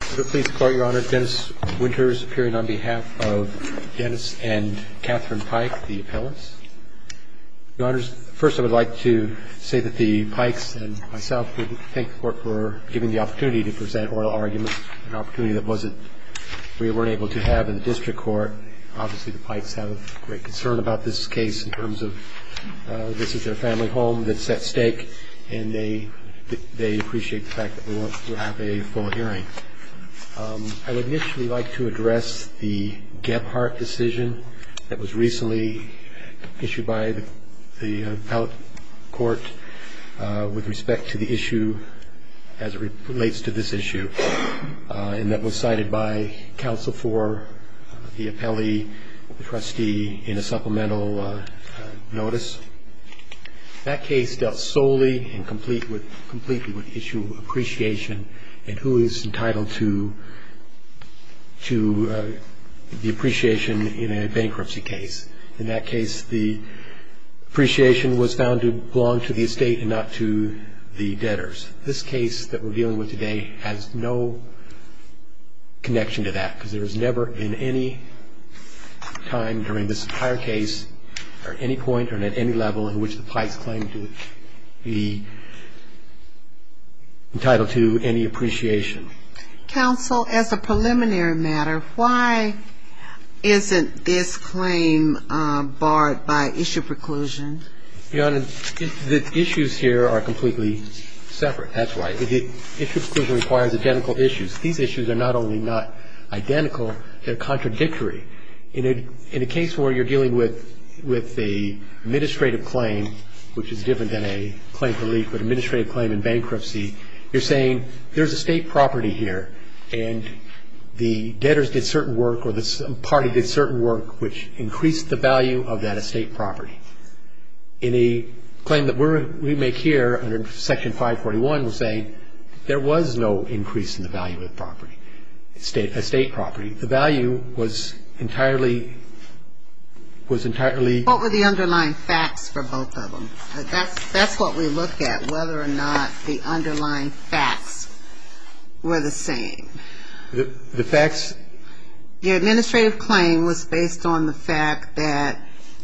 I'm pleased to call your Honor, Dennis Winters, appearing on behalf of Dennis and Katherine Pike, the appellants. Your Honors, first I would like to say that the Pikes and myself would thank the Court for giving the opportunity to present oral arguments, an opportunity that wasn't, we weren't able to have in the district court. Obviously the Pikes have a great concern about this case in terms of this is their family home that's at stake, and they appreciate the fact that we'll have a full hearing. I would initially like to address the Gebhardt decision that was recently issued by the appellate court with respect to the issue, as it relates to this issue, and that was cited by counsel for the appellee, the trustee, in a supplemental notice. That case dealt solely and completely with the issue of appreciation and who is entitled to the appreciation in a bankruptcy case. In that case, the appreciation was found to belong to the estate and not to the debtors. This case that we're dealing with today has no connection to that, because there has never in any time during this entire case or any point or at any level in which the Pikes claim to be entitled to any appreciation. Counsel, as a preliminary matter, why isn't this claim barred by issue preclusion? Your Honor, the issues here are completely separate. That's right. Issue preclusion requires identical issues. These issues are not only not identical, they're contradictory. In a case where you're dealing with an administrative claim, which is different than a claim to leave, but an administrative claim in bankruptcy, you're saying there's estate property here, and the debtors did certain work or the party did certain work which increased the value of that estate property. In a claim that we make here under Section 541, we're saying there was no increase in the value of the property, estate property. The value was entirely ‑‑ What were the underlying facts for both of them? That's what we look at, whether or not the underlying facts were the same. The facts? The administrative claim was based on the fact that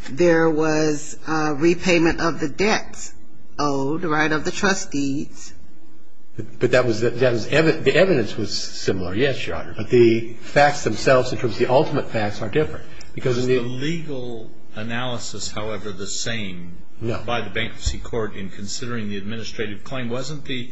there was repayment of the debt owed, right, of the trustees. But the evidence was similar. Yes, Your Honor. But the facts themselves in terms of the ultimate facts are different. Was the legal analysis, however, the same by the bankruptcy court in considering the administrative claim? Wasn't the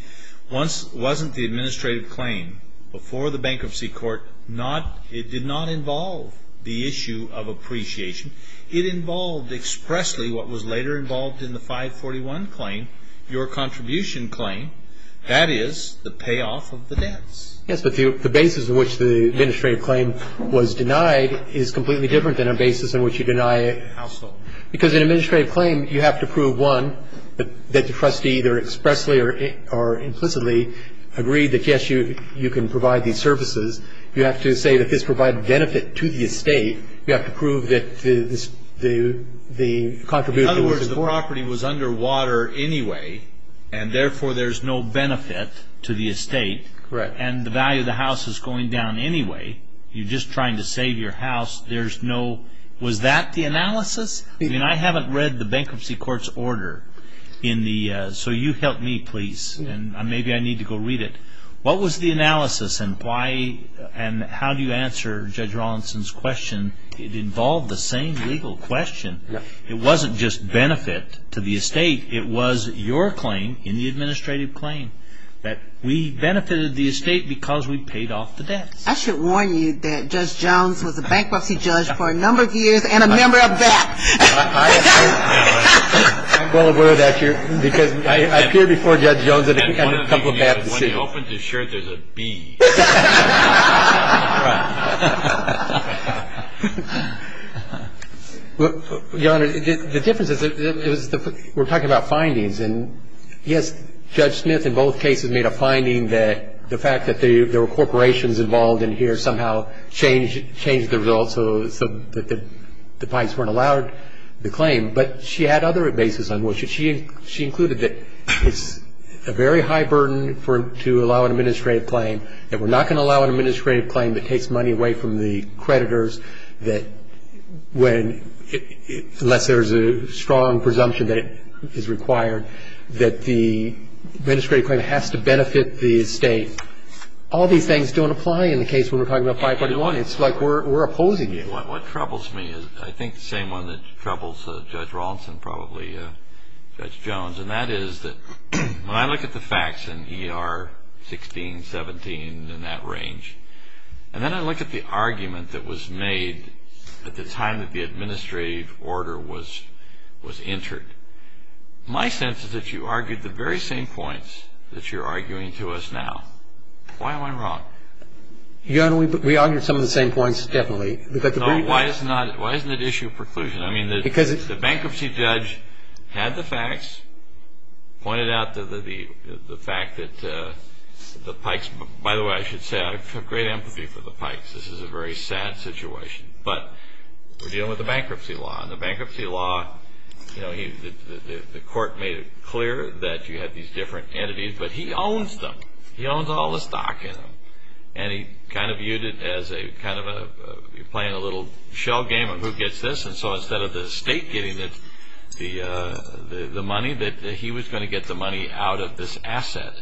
‑‑ wasn't the administrative claim before the bankruptcy court not ‑‑ it did not involve the issue of appreciation. It involved expressly what was later involved in the 541 claim, your contribution claim, that is, the payoff of the debts. Yes, but the basis on which the administrative claim was denied is completely different than a basis on which you deny a household. Because an administrative claim, you have to prove, one, that the trustee either expressly or implicitly agreed that, yes, you can provide these services. You have to say that this provided benefit to the estate. You have to prove that the contribution was ‑‑ In other words, the property was underwater anyway, and therefore there's no benefit to the estate. Correct. And the value of the house is going down anyway. You're just trying to save your house. There's no ‑‑ was that the analysis? I mean, I haven't read the bankruptcy court's order in the ‑‑ so you help me, please, and maybe I need to go read it. What was the analysis, and why ‑‑ and how do you answer Judge Rawlinson's question? It involved the same legal question. It wasn't just benefit to the estate. It was your claim in the administrative claim, that we benefited the estate because we paid off the debts. I should warn you that Judge Jones was a bankruptcy judge for a number of years and a member of that. I'm going with that, because I appeared before Judge Jones a couple of times. When he opens his shirt, there's a B. Your Honor, the difference is we're talking about findings, and, yes, Judge Smith in both cases made a finding that the fact that there were corporations involved in here somehow changed the results so that the banks weren't allowed the claim. But she had other bases on which she included that it's a very high burden to allow an administrative claim, that we're not going to allow an administrative claim that takes money away from the creditors, that when ‑‑ unless there's a strong presumption that it is required, that the administrative claim has to benefit the estate. All these things don't apply in the case when we're talking about 541. It's like we're opposing it. What troubles me is I think the same one that troubles Judge Rawlinson probably, Judge Jones, and that is that when I look at the facts in ER 16, 17 and in that range, and then I look at the argument that was made at the time that the administrative order was entered, my sense is that you argued the very same points that you're arguing to us now. Why am I wrong? Your Honor, we argued some of the same points, definitely. No, why isn't it issue of preclusion? I mean, the bankruptcy judge had the facts, pointed out the fact that the Pikes, by the way, I should say, I have great empathy for the Pikes. This is a very sad situation. But we're dealing with a bankruptcy law, and the bankruptcy law, you know, the court made it clear that you had these different entities, but he owns them. He owns all the stock in them. And he kind of viewed it as a kind of a playing a little shell game of who gets this. And so instead of the estate getting the money, he was going to get the money out of this asset.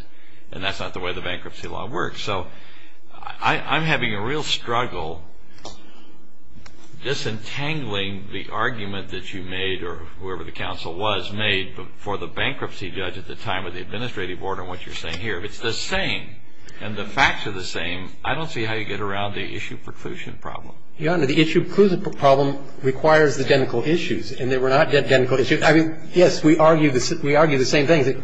And that's not the way the bankruptcy law works. So I'm having a real struggle disentangling the argument that you made or whoever the counsel was made for the bankruptcy judge at the time of the administrative order and what you're saying here. It's the same. And the facts are the same. I don't see how you get around the issue of preclusion problem. Your Honor, the issue of preclusion problem requires the genital issues, and they were not genital issues. I mean, yes, we argue the same things.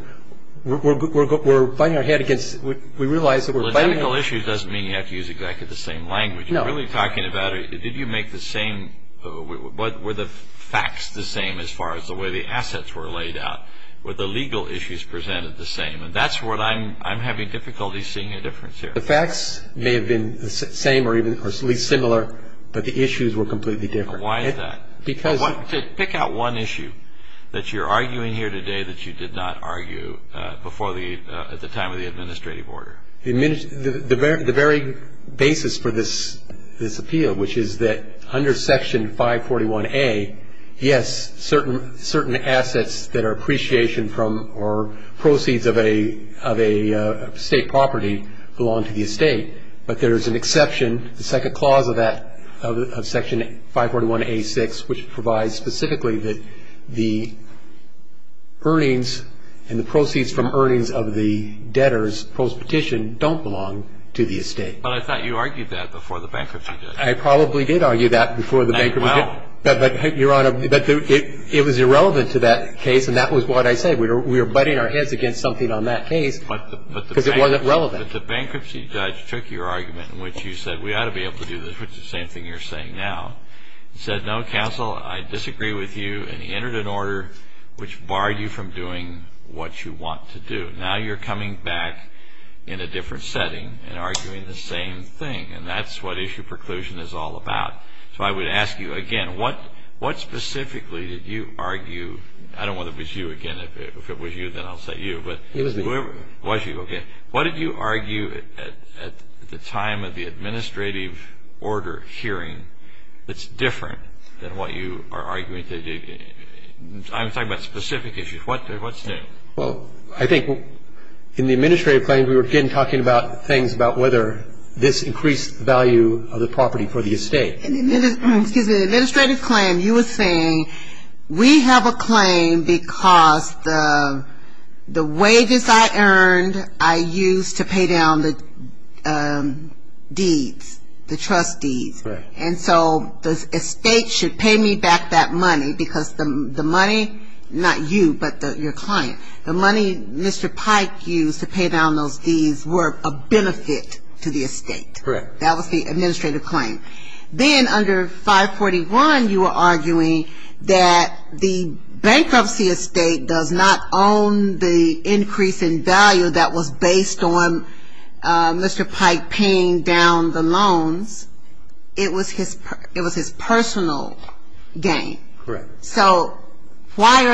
We're fighting our head against – we realize that we're fighting our – Genital issues doesn't mean you have to use exactly the same language. You're really talking about did you make the same – were the facts the same as far as the way the assets were laid out? Were the legal issues presented the same? And that's what I'm – I'm having difficulty seeing a difference here. The facts may have been the same or at least similar, but the issues were completely different. Why is that? Because – Pick out one issue that you're arguing here today that you did not argue before the – at the time of the administrative order. The very basis for this appeal, which is that under Section 541A, yes, certain assets that are appreciation from or proceeds of a state property belong to the estate, but there's an exception, the second clause of that, of Section 541A6, which provides specifically that the earnings and the proceeds from earnings of the debtors, postpetition, don't belong to the estate. But I thought you argued that before the bankruptcy judge. I probably did argue that before the bankruptcy judge. Well – But, Your Honor, it was irrelevant to that case, and that was what I said. We were – we were butting our heads against something on that case because it wasn't relevant. But the bankruptcy judge took your argument in which you said, we ought to be able to do this, which is the same thing you're saying now, and said, no, counsel, I disagree with you, and he entered an order which barred you from doing what you want to do. Now you're coming back in a different setting and arguing the same thing, and that's what issue preclusion is all about. So I would ask you again, what specifically did you argue – I don't want it to be you again. If it was you, then I'll say you, but – It was me. It was you, okay. What did you argue at the time of the administrative order hearing that's different than what you are arguing today? I'm talking about specific issues. What's new? Well, I think in the administrative claim, we were again talking about things about whether this increased value of the property for the estate. In the administrative claim, you were saying, we have a claim because the wages I earned I used to pay down the deeds, the trust deeds, and so the estate should pay me back that money because the money, not you, but your client, the money Mr. Pike used to pay down those deeds were a benefit to the estate. Correct. That was the administrative claim. Then under 541, you were arguing that the bankruptcy estate does not own the increase in value that was based on Mr. Pike paying down the loans. It was his personal gain. Correct. So why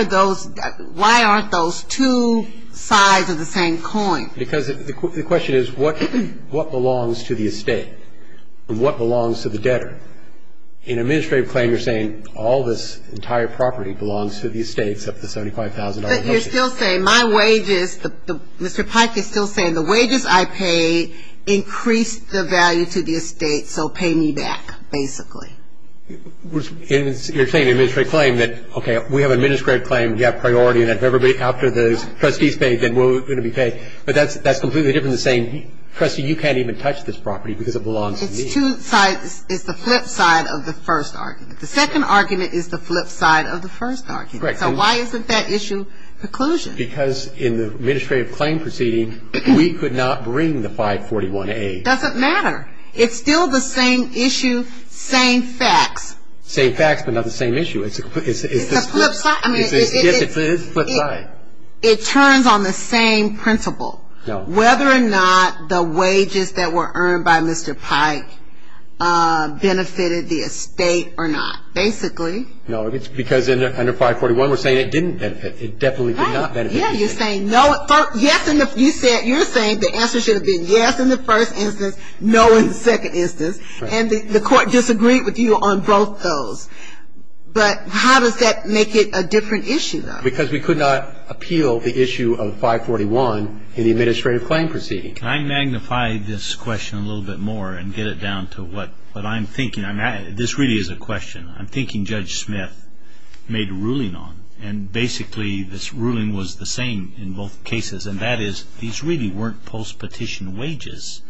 aren't those two sides of the same coin? Because the question is what belongs to the estate and what belongs to the debtor? In an administrative claim, you're saying all this entire property belongs to the estate except the $75,000. But you're still saying my wages, Mr. Pike is still saying the wages I pay increase the value to the estate, so pay me back basically. You're saying in an administrative claim that, okay, we have an administrative claim, we have priority, and if everybody after the trustee's paid, then we're going to be paid. But that's completely different than saying, trustee, you can't even touch this property because it belongs to me. It's two sides. It's the flip side of the first argument. The second argument is the flip side of the first argument. Correct. So why isn't that issue preclusion? Because in the administrative claim proceeding, we could not bring the 541A. It doesn't matter. It's still the same issue, same facts. Same facts, but not the same issue. It's the flip side. It turns on the same principle, whether or not the wages that were earned by Mr. Pike benefited the estate or not, basically. No, because under 541, we're saying it didn't benefit. It definitely did not benefit. Yeah, you're saying no. Yes, you're saying the answer should have been yes in the first instance, no in the second instance, and the court disagreed with you on both those. But how does that make it a different issue, though? Because we could not appeal the issue of 541 in the administrative claim proceeding. Can I magnify this question a little bit more and get it down to what I'm thinking? This really is a question. I'm thinking Judge Smith made a ruling on it, and basically this ruling was the same in both cases, and that is these really weren't post-petition wages.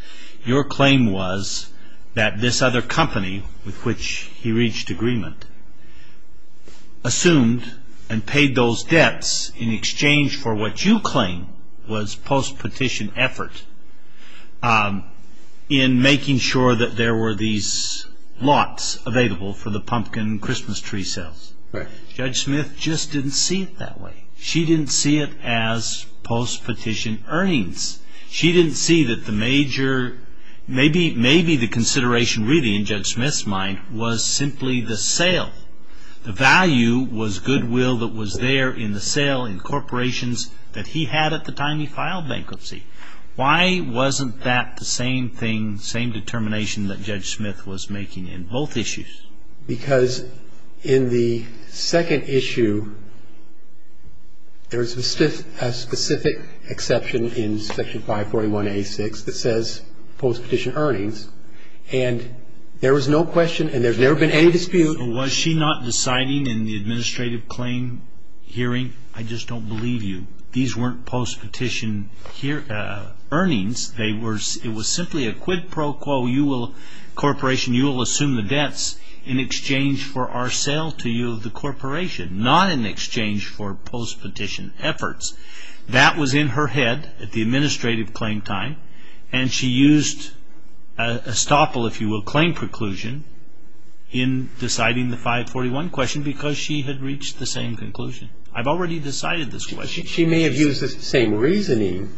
Your claim was that this other company with which he reached agreement assumed and paid those debts in exchange for what you claim was post-petition effort in making sure that there were these lots available for the pumpkin Christmas tree sales. Right. Judge Smith just didn't see it that way. She didn't see it as post-petition earnings. She didn't see that the major, maybe the consideration really in Judge Smith's mind was simply the sale. The value was goodwill that was there in the sale in corporations that he had at the time he filed bankruptcy. Why wasn't that the same thing, same determination that Judge Smith was making in both issues? Because in the second issue, there's a specific exception in Section 541A6 that says post-petition earnings, and there was no question and there's never been any dispute. So was she not deciding in the administrative claim hearing? I just don't believe you. These weren't post-petition earnings. It was simply a quid pro quo. You will, corporation, you will assume the debts in exchange for our sale to you, the corporation, not in exchange for post-petition efforts. That was in her head at the administrative claim time, and she used estoppel, if you will, claim preclusion in deciding the 541 question because she had reached the same conclusion. I've already decided this was. She may have used the same reasoning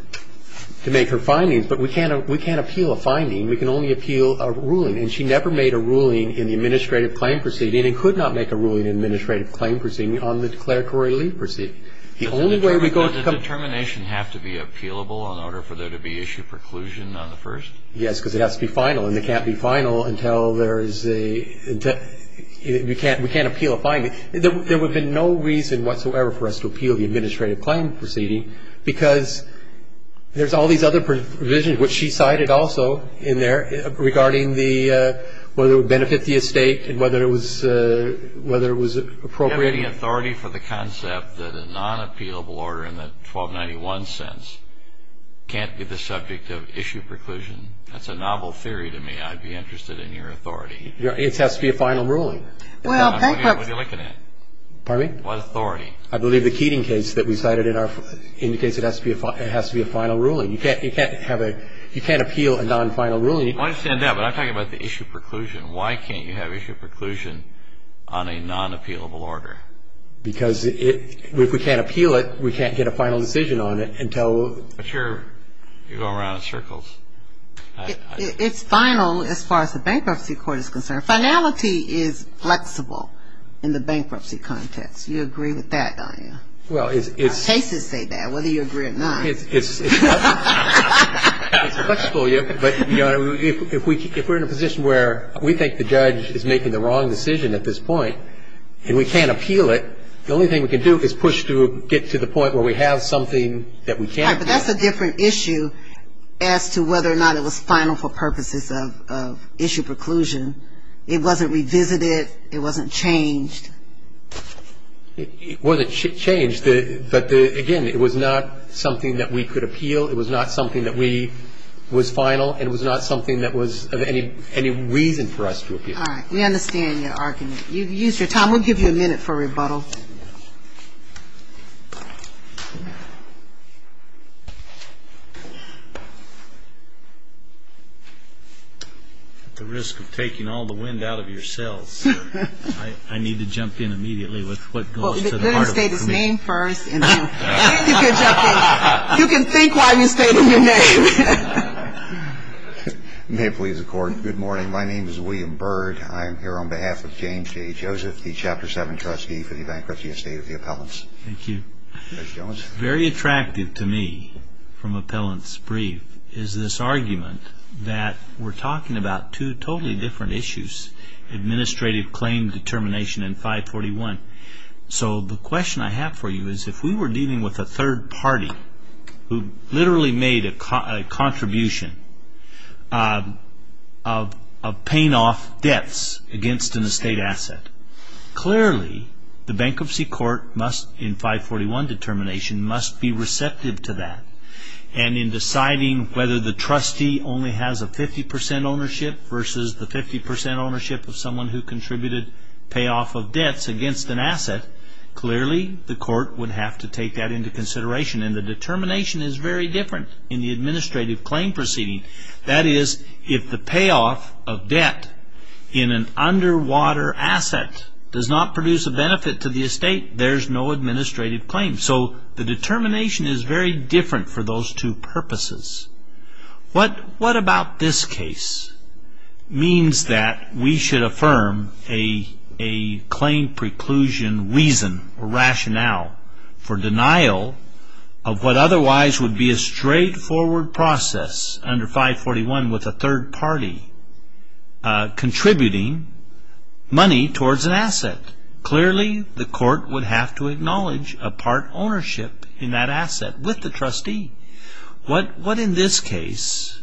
to make her findings, but we can't appeal a finding. We can only appeal a ruling, and she never made a ruling in the administrative claim proceeding and could not make a ruling in the administrative claim proceeding on the declaratory leave proceeding. Does the determination have to be appealable in order for there to be issue preclusion on the first? Yes, because it has to be final, and it can't be final until there is a, we can't appeal a finding. There would be no reason whatsoever for us to appeal the administrative claim proceeding because there's all these other provisions, which she cited also in there, regarding whether it would benefit the estate and whether it was appropriate. Do you have any authority for the concept that a non-appealable order in the 1291 sense can't be the subject of issue preclusion? That's a novel theory to me. I'd be interested in your authority. It has to be a final ruling. Well, bankruptcy. What are you looking at? Pardon me? What authority? I believe the Keating case that we cited indicates it has to be a final ruling. You can't have a, you can't appeal a non-final ruling. I understand that, but I'm talking about the issue preclusion. Why can't you have issue preclusion on a non-appealable order? Because if we can't appeal it, we can't get a final decision on it until. But you're going around in circles. It's final as far as the Bankruptcy Court is concerned. Finality is flexible in the bankruptcy context. Do you agree with that, Dianne? Well, it's. Cases say that, whether you agree or not. It's flexible, but, Your Honor, if we're in a position where we think the judge is making the wrong decision at this point and we can't appeal it, the only thing we can do is push to get to the point where we have something that we can't have. But that's a different issue as to whether or not it was final for purposes of issue preclusion. It wasn't revisited. It wasn't changed. It wasn't changed, but, again, it was not something that we could appeal. It was not something that we, was final, and it was not something that was of any reason for us to appeal. All right. We understand your argument. You've used your time. I will give you a minute for rebuttal. At the risk of taking all the wind out of your sails, I need to jump in immediately with what goes to the heart of the committee. Well, if you're going to state his name first and then you can jump in. You can think while you state your name. May it please the Court. Good morning. My name is William Byrd. I am here on behalf of James J. Joseph, the Chapter 7 trustee for the Bankruptcy Estate of the Appellants. Thank you. Mr. Jones. Very attractive to me from Appellants Brief is this argument that we're talking about two totally different issues, administrative claim determination and 541. So the question I have for you is if we were dealing with a third party who literally made a contribution of paying off debts against an estate asset, clearly the bankruptcy court must, in 541 determination, must be receptive to that. And in deciding whether the trustee only has a 50% ownership versus the 50% ownership of someone who contributed pay off of debts against an asset, clearly the court would have to take that into consideration. And the determination is very different in the administrative claim proceeding. That is, if the pay off of debt in an underwater asset does not produce a benefit to the estate, there's no administrative claim. So the determination is very different for those two purposes. What about this case? It means that we should affirm a claim preclusion reason or rationale for denial of what otherwise would be a straightforward process under 541 with a third party contributing money towards an asset. Clearly, the court would have to acknowledge a part ownership in that asset with the trustee. What in this case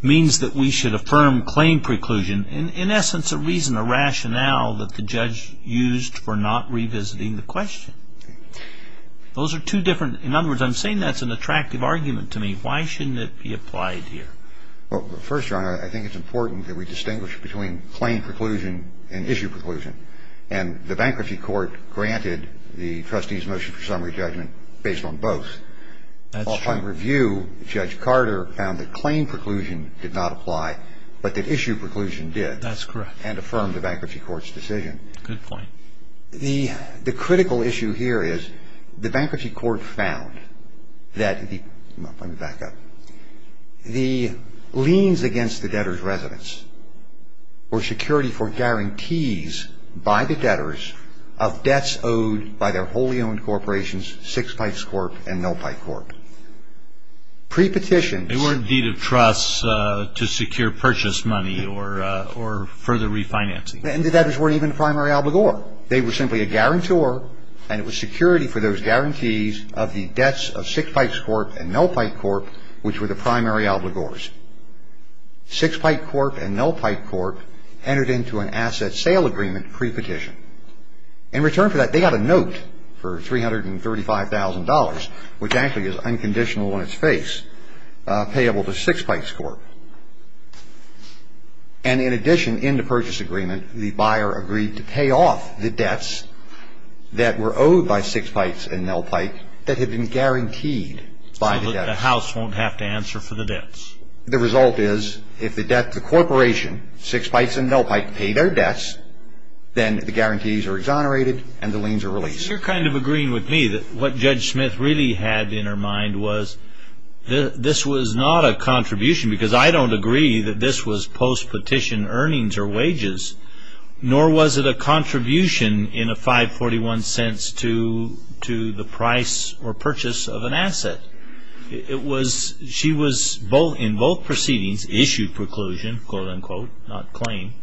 means that we should affirm claim preclusion? In essence, a reason, a rationale that the judge used for not revisiting the question. In other words, I'm saying that's an attractive argument to me. Why shouldn't it be applied here? Well, first, John, I think it's important that we distinguish between claim preclusion and issue preclusion. And the bankruptcy court granted the trustee's motion for summary judgment based on both. While trying to review, Judge Carter found that claim preclusion did not apply, but that issue preclusion did. That's correct. And affirmed the bankruptcy court's decision. Good point. The critical issue here is the bankruptcy court found that the, let me back up, the liens against the debtor's residence or security for guarantees by the debtors of debts owed by their wholly owned corporations, Sixpikes Corp. and Nullpike Corp. Pre-petition. They weren't deed of trust to secure purchase money or further refinancing. The debtors weren't even the primary obligor. They were simply a guarantor, and it was security for those guarantees of the debts of Sixpikes Corp. and Nullpike Corp., which were the primary obligors. Sixpikes Corp. and Nullpike Corp. entered into an asset sale agreement pre-petition. In return for that, they got a note for $335,000, which actually is unconditional on its face, payable to Sixpikes Corp. And in addition, in the purchase agreement, the buyer agreed to pay off the debts that were owed by Sixpikes and Nullpike that had been guaranteed by the debtors. So the house won't have to answer for the debts. The result is, if the corporation, Sixpikes and Nullpike, pay their debts, then the guarantees are exonerated and the liens are released. You're kind of agreeing with me that what Judge Smith really had in her mind was that this was not a contribution, because I don't agree that this was post-petition earnings or wages, nor was it a contribution in a 541 cents to the price or purchase of an asset. She was, in both proceedings, issued preclusion, quote, unquote, not claim.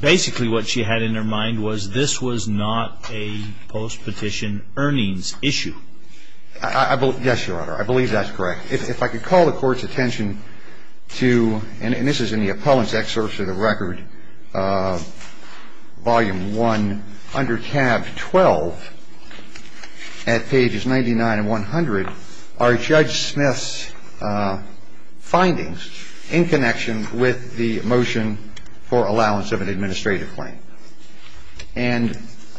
Basically, what she had in her mind was this was not a post-petition earnings issue. Yes, Your Honor. I believe that's correct. If I could call the Court's attention to, and this is in the appellant's excerpts of the record, Volume 1, under tab 12, at pages 99 and 100, are Judge Smith's findings in connection with the motion for allowance of an administrative claim. And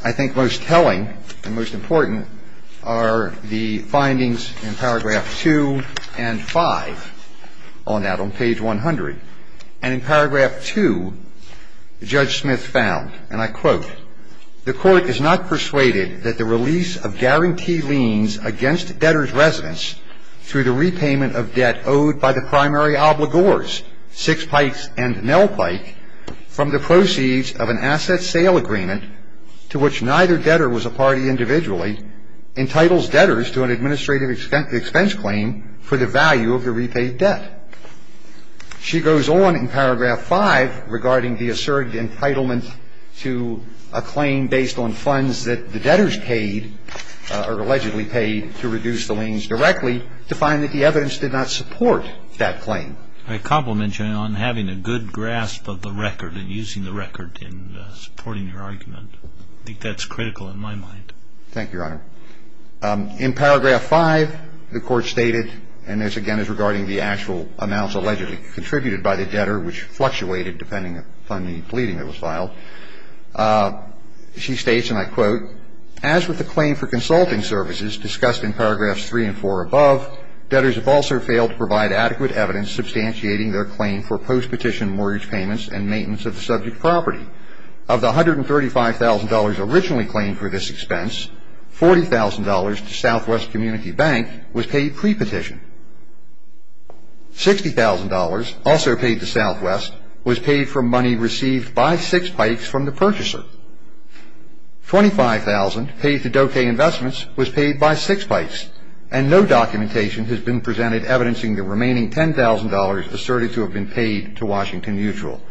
I think most telling and most important are the findings in paragraph 2 and 5 on that, on page 100. And in paragraph 2, Judge Smith found, and I quote, the Court is not persuaded that the release of guarantee liens against debtors' residence through the repayment of debt owed by the primary obligors, Sixpikes and Nelpike, from the proceeds of an asset sale agreement to which neither debtor was a party individually, entitles debtors to an administrative expense claim for the value of the repaid debt. She goes on in paragraph 5 regarding the asserted entitlement to a claim based on funds that the debtors paid or allegedly paid to reduce the liens directly to find that the evidence did not support that claim. I compliment you on having a good grasp of the record and using the record in supporting your argument. I think that's critical in my mind. Thank you, Your Honor. In paragraph 5, the Court stated, and this, again, is regarding the actual amounts allegedly contributed by the debtor, which fluctuated depending upon the pleading that was filed. She states, and I quote, As with the claim for consulting services discussed in paragraphs 3 and 4 above, debtors have also failed to provide adequate evidence substantiating their claim for post-petition mortgage payments and maintenance of the subject property. Of the $135,000 originally claimed for this expense, $40,000 to Southwest Community Bank was paid pre-petition. $60,000, also paid to Southwest, was paid for money received by six pikes from the purchaser. $25,000, paid to Dokay Investments, was paid by six pikes, and no documentation has been presented evidencing the remaining $10,000 asserted to have been paid to Washington Mutual.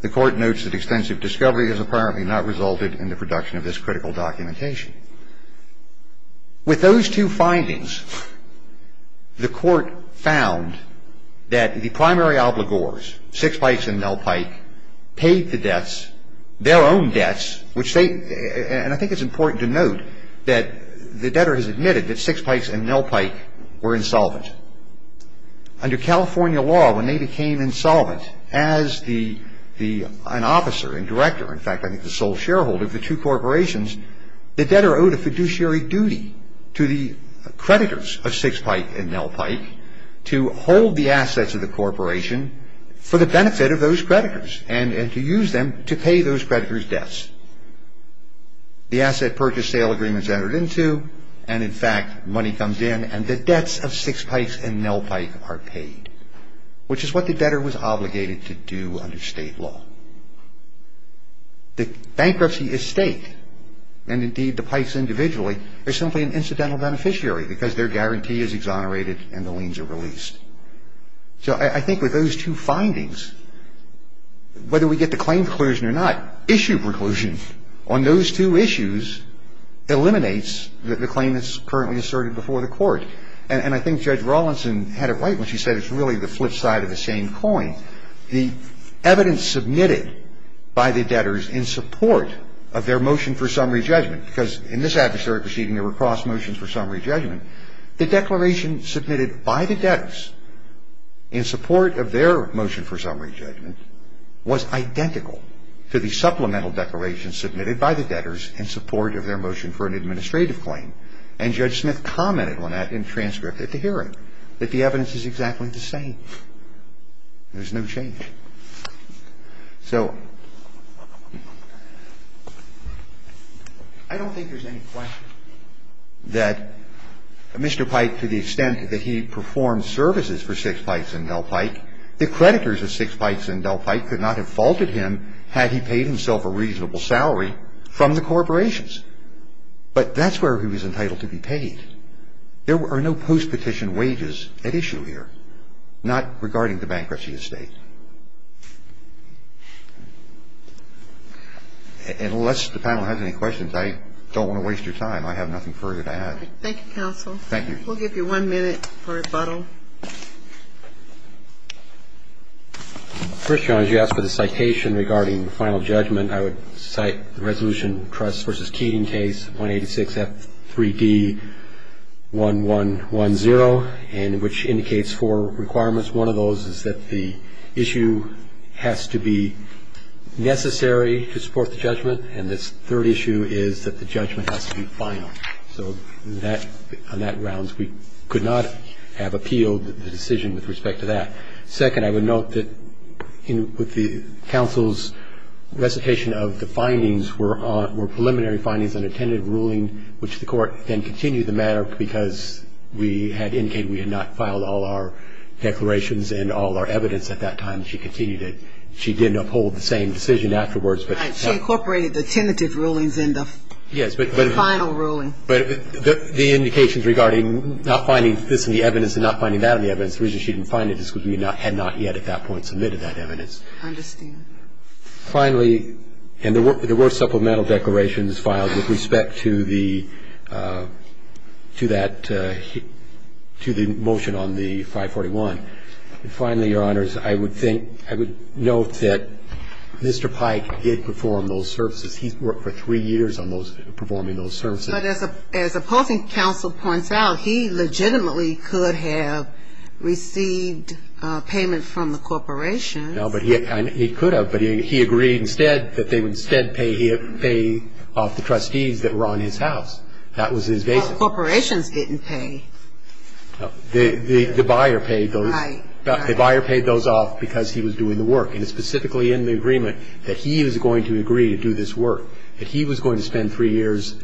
The Court notes that extensive discovery has apparently not resulted in the production of this critical documentation. With those two findings, the Court found that the primary obligors, six pikes and Nell Pike, paid the debts, their own debts, which they, and I think it's important to note, that the debtor has admitted that six pikes and Nell Pike were insolvent. Under California law, when they became insolvent, as an officer and director, in fact I think the sole shareholder of the two corporations, the debtor owed a fiduciary duty to the creditors of six pikes and Nell Pike to hold the assets of the corporation for the benefit of those creditors The asset purchase sale agreement is entered into, and in fact money comes in, and the debts of six pikes and Nell Pike are paid, which is what the debtor was obligated to do under state law. The bankruptcy estate, and indeed the pikes individually, are simply an incidental beneficiary because their guarantee is exonerated and the liens are released. So I think with those two findings, whether we get the claim preclusion or not, issue preclusion on those two issues eliminates the claim that's currently asserted before the court. And I think Judge Rawlinson had it right when she said it's really the flip side of the same coin. The evidence submitted by the debtors in support of their motion for summary judgment, because in this adversarial proceeding there were cross motions for summary judgment, the declaration submitted by the debtors in support of their motion for summary judgment was identical to the supplemental declaration submitted by the debtors in support of their motion for an administrative claim. And Judge Smith commented on that in transcript at the hearing, that the evidence is exactly the same. There's no change. So I don't think there's any question that Mr. Pike, to the extent that he performed services for six pikes and Nell Pike, the creditors of six pikes and Nell Pike could not have faulted him had he paid himself a reasonable salary from the corporations. But that's where he was entitled to be paid. There are no post-petition wages at issue here, not regarding the bankruptcy estate. Unless the panel has any questions, I don't want to waste your time. I have nothing further to add. Thank you, counsel. Thank you. We'll give you one minute for rebuttal. First, Your Honor, you asked for the citation regarding the final judgment. I would cite the Resolution Trust v. Keating case, 186F3D1110, which indicates four requirements. One of those is that the issue has to be necessary to support the judgment, and this third issue is that the judgment has to be final. So on that grounds, we could not have appealed the decision with respect to that. Second, I would note that with the counsel's recitation of the findings were preliminary findings and a tentative ruling, which the Court then continued the matter because we had indicated we had not filed all our declarations and all our evidence at that time, and she continued it. She did uphold the same decision afterwards. She incorporated the tentative rulings in the final ruling. But the indications regarding not finding this in the evidence and not finding that in the evidence, the reason she didn't find it is because we had not yet at that point submitted that evidence. I understand. Finally, and there were supplemental declarations filed with respect to the motion on the 541. Finally, Your Honors, I would note that Mr. Pike did perform those services. He worked for three years on those, performing those services. But as opposing counsel points out, he legitimately could have received payment from the corporations. No, but he could have. But he agreed instead that they would instead pay off the trustees that were on his house. That was his basis. But corporations didn't pay. The buyer paid those. Right. The buyer paid those off because he was doing the work. And it's specifically in the agreement that he is going to agree to do this work, that he was going to spend three years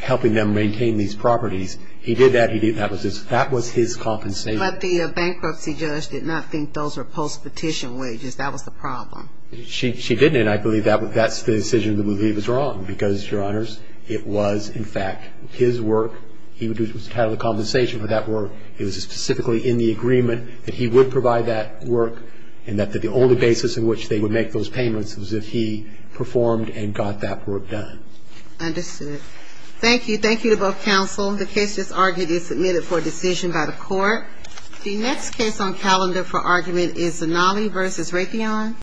helping them maintain these properties. He did that. He did that. That was his compensation. But the bankruptcy judge did not think those were post-petition wages. That was the problem. She didn't. And I believe that's the decision to believe is wrong, because, Your Honors, it was, in fact, his work. He was entitled to compensation for that work. It was specifically in the agreement that he would provide that work, and that the only basis in which they would make those payments was if he performed and got that work done. Understood. Thank you. Thank you to both counsel. The case that's argued is submitted for decision by the court. The next case on calendar for argument is Zanolli v. Raytheon.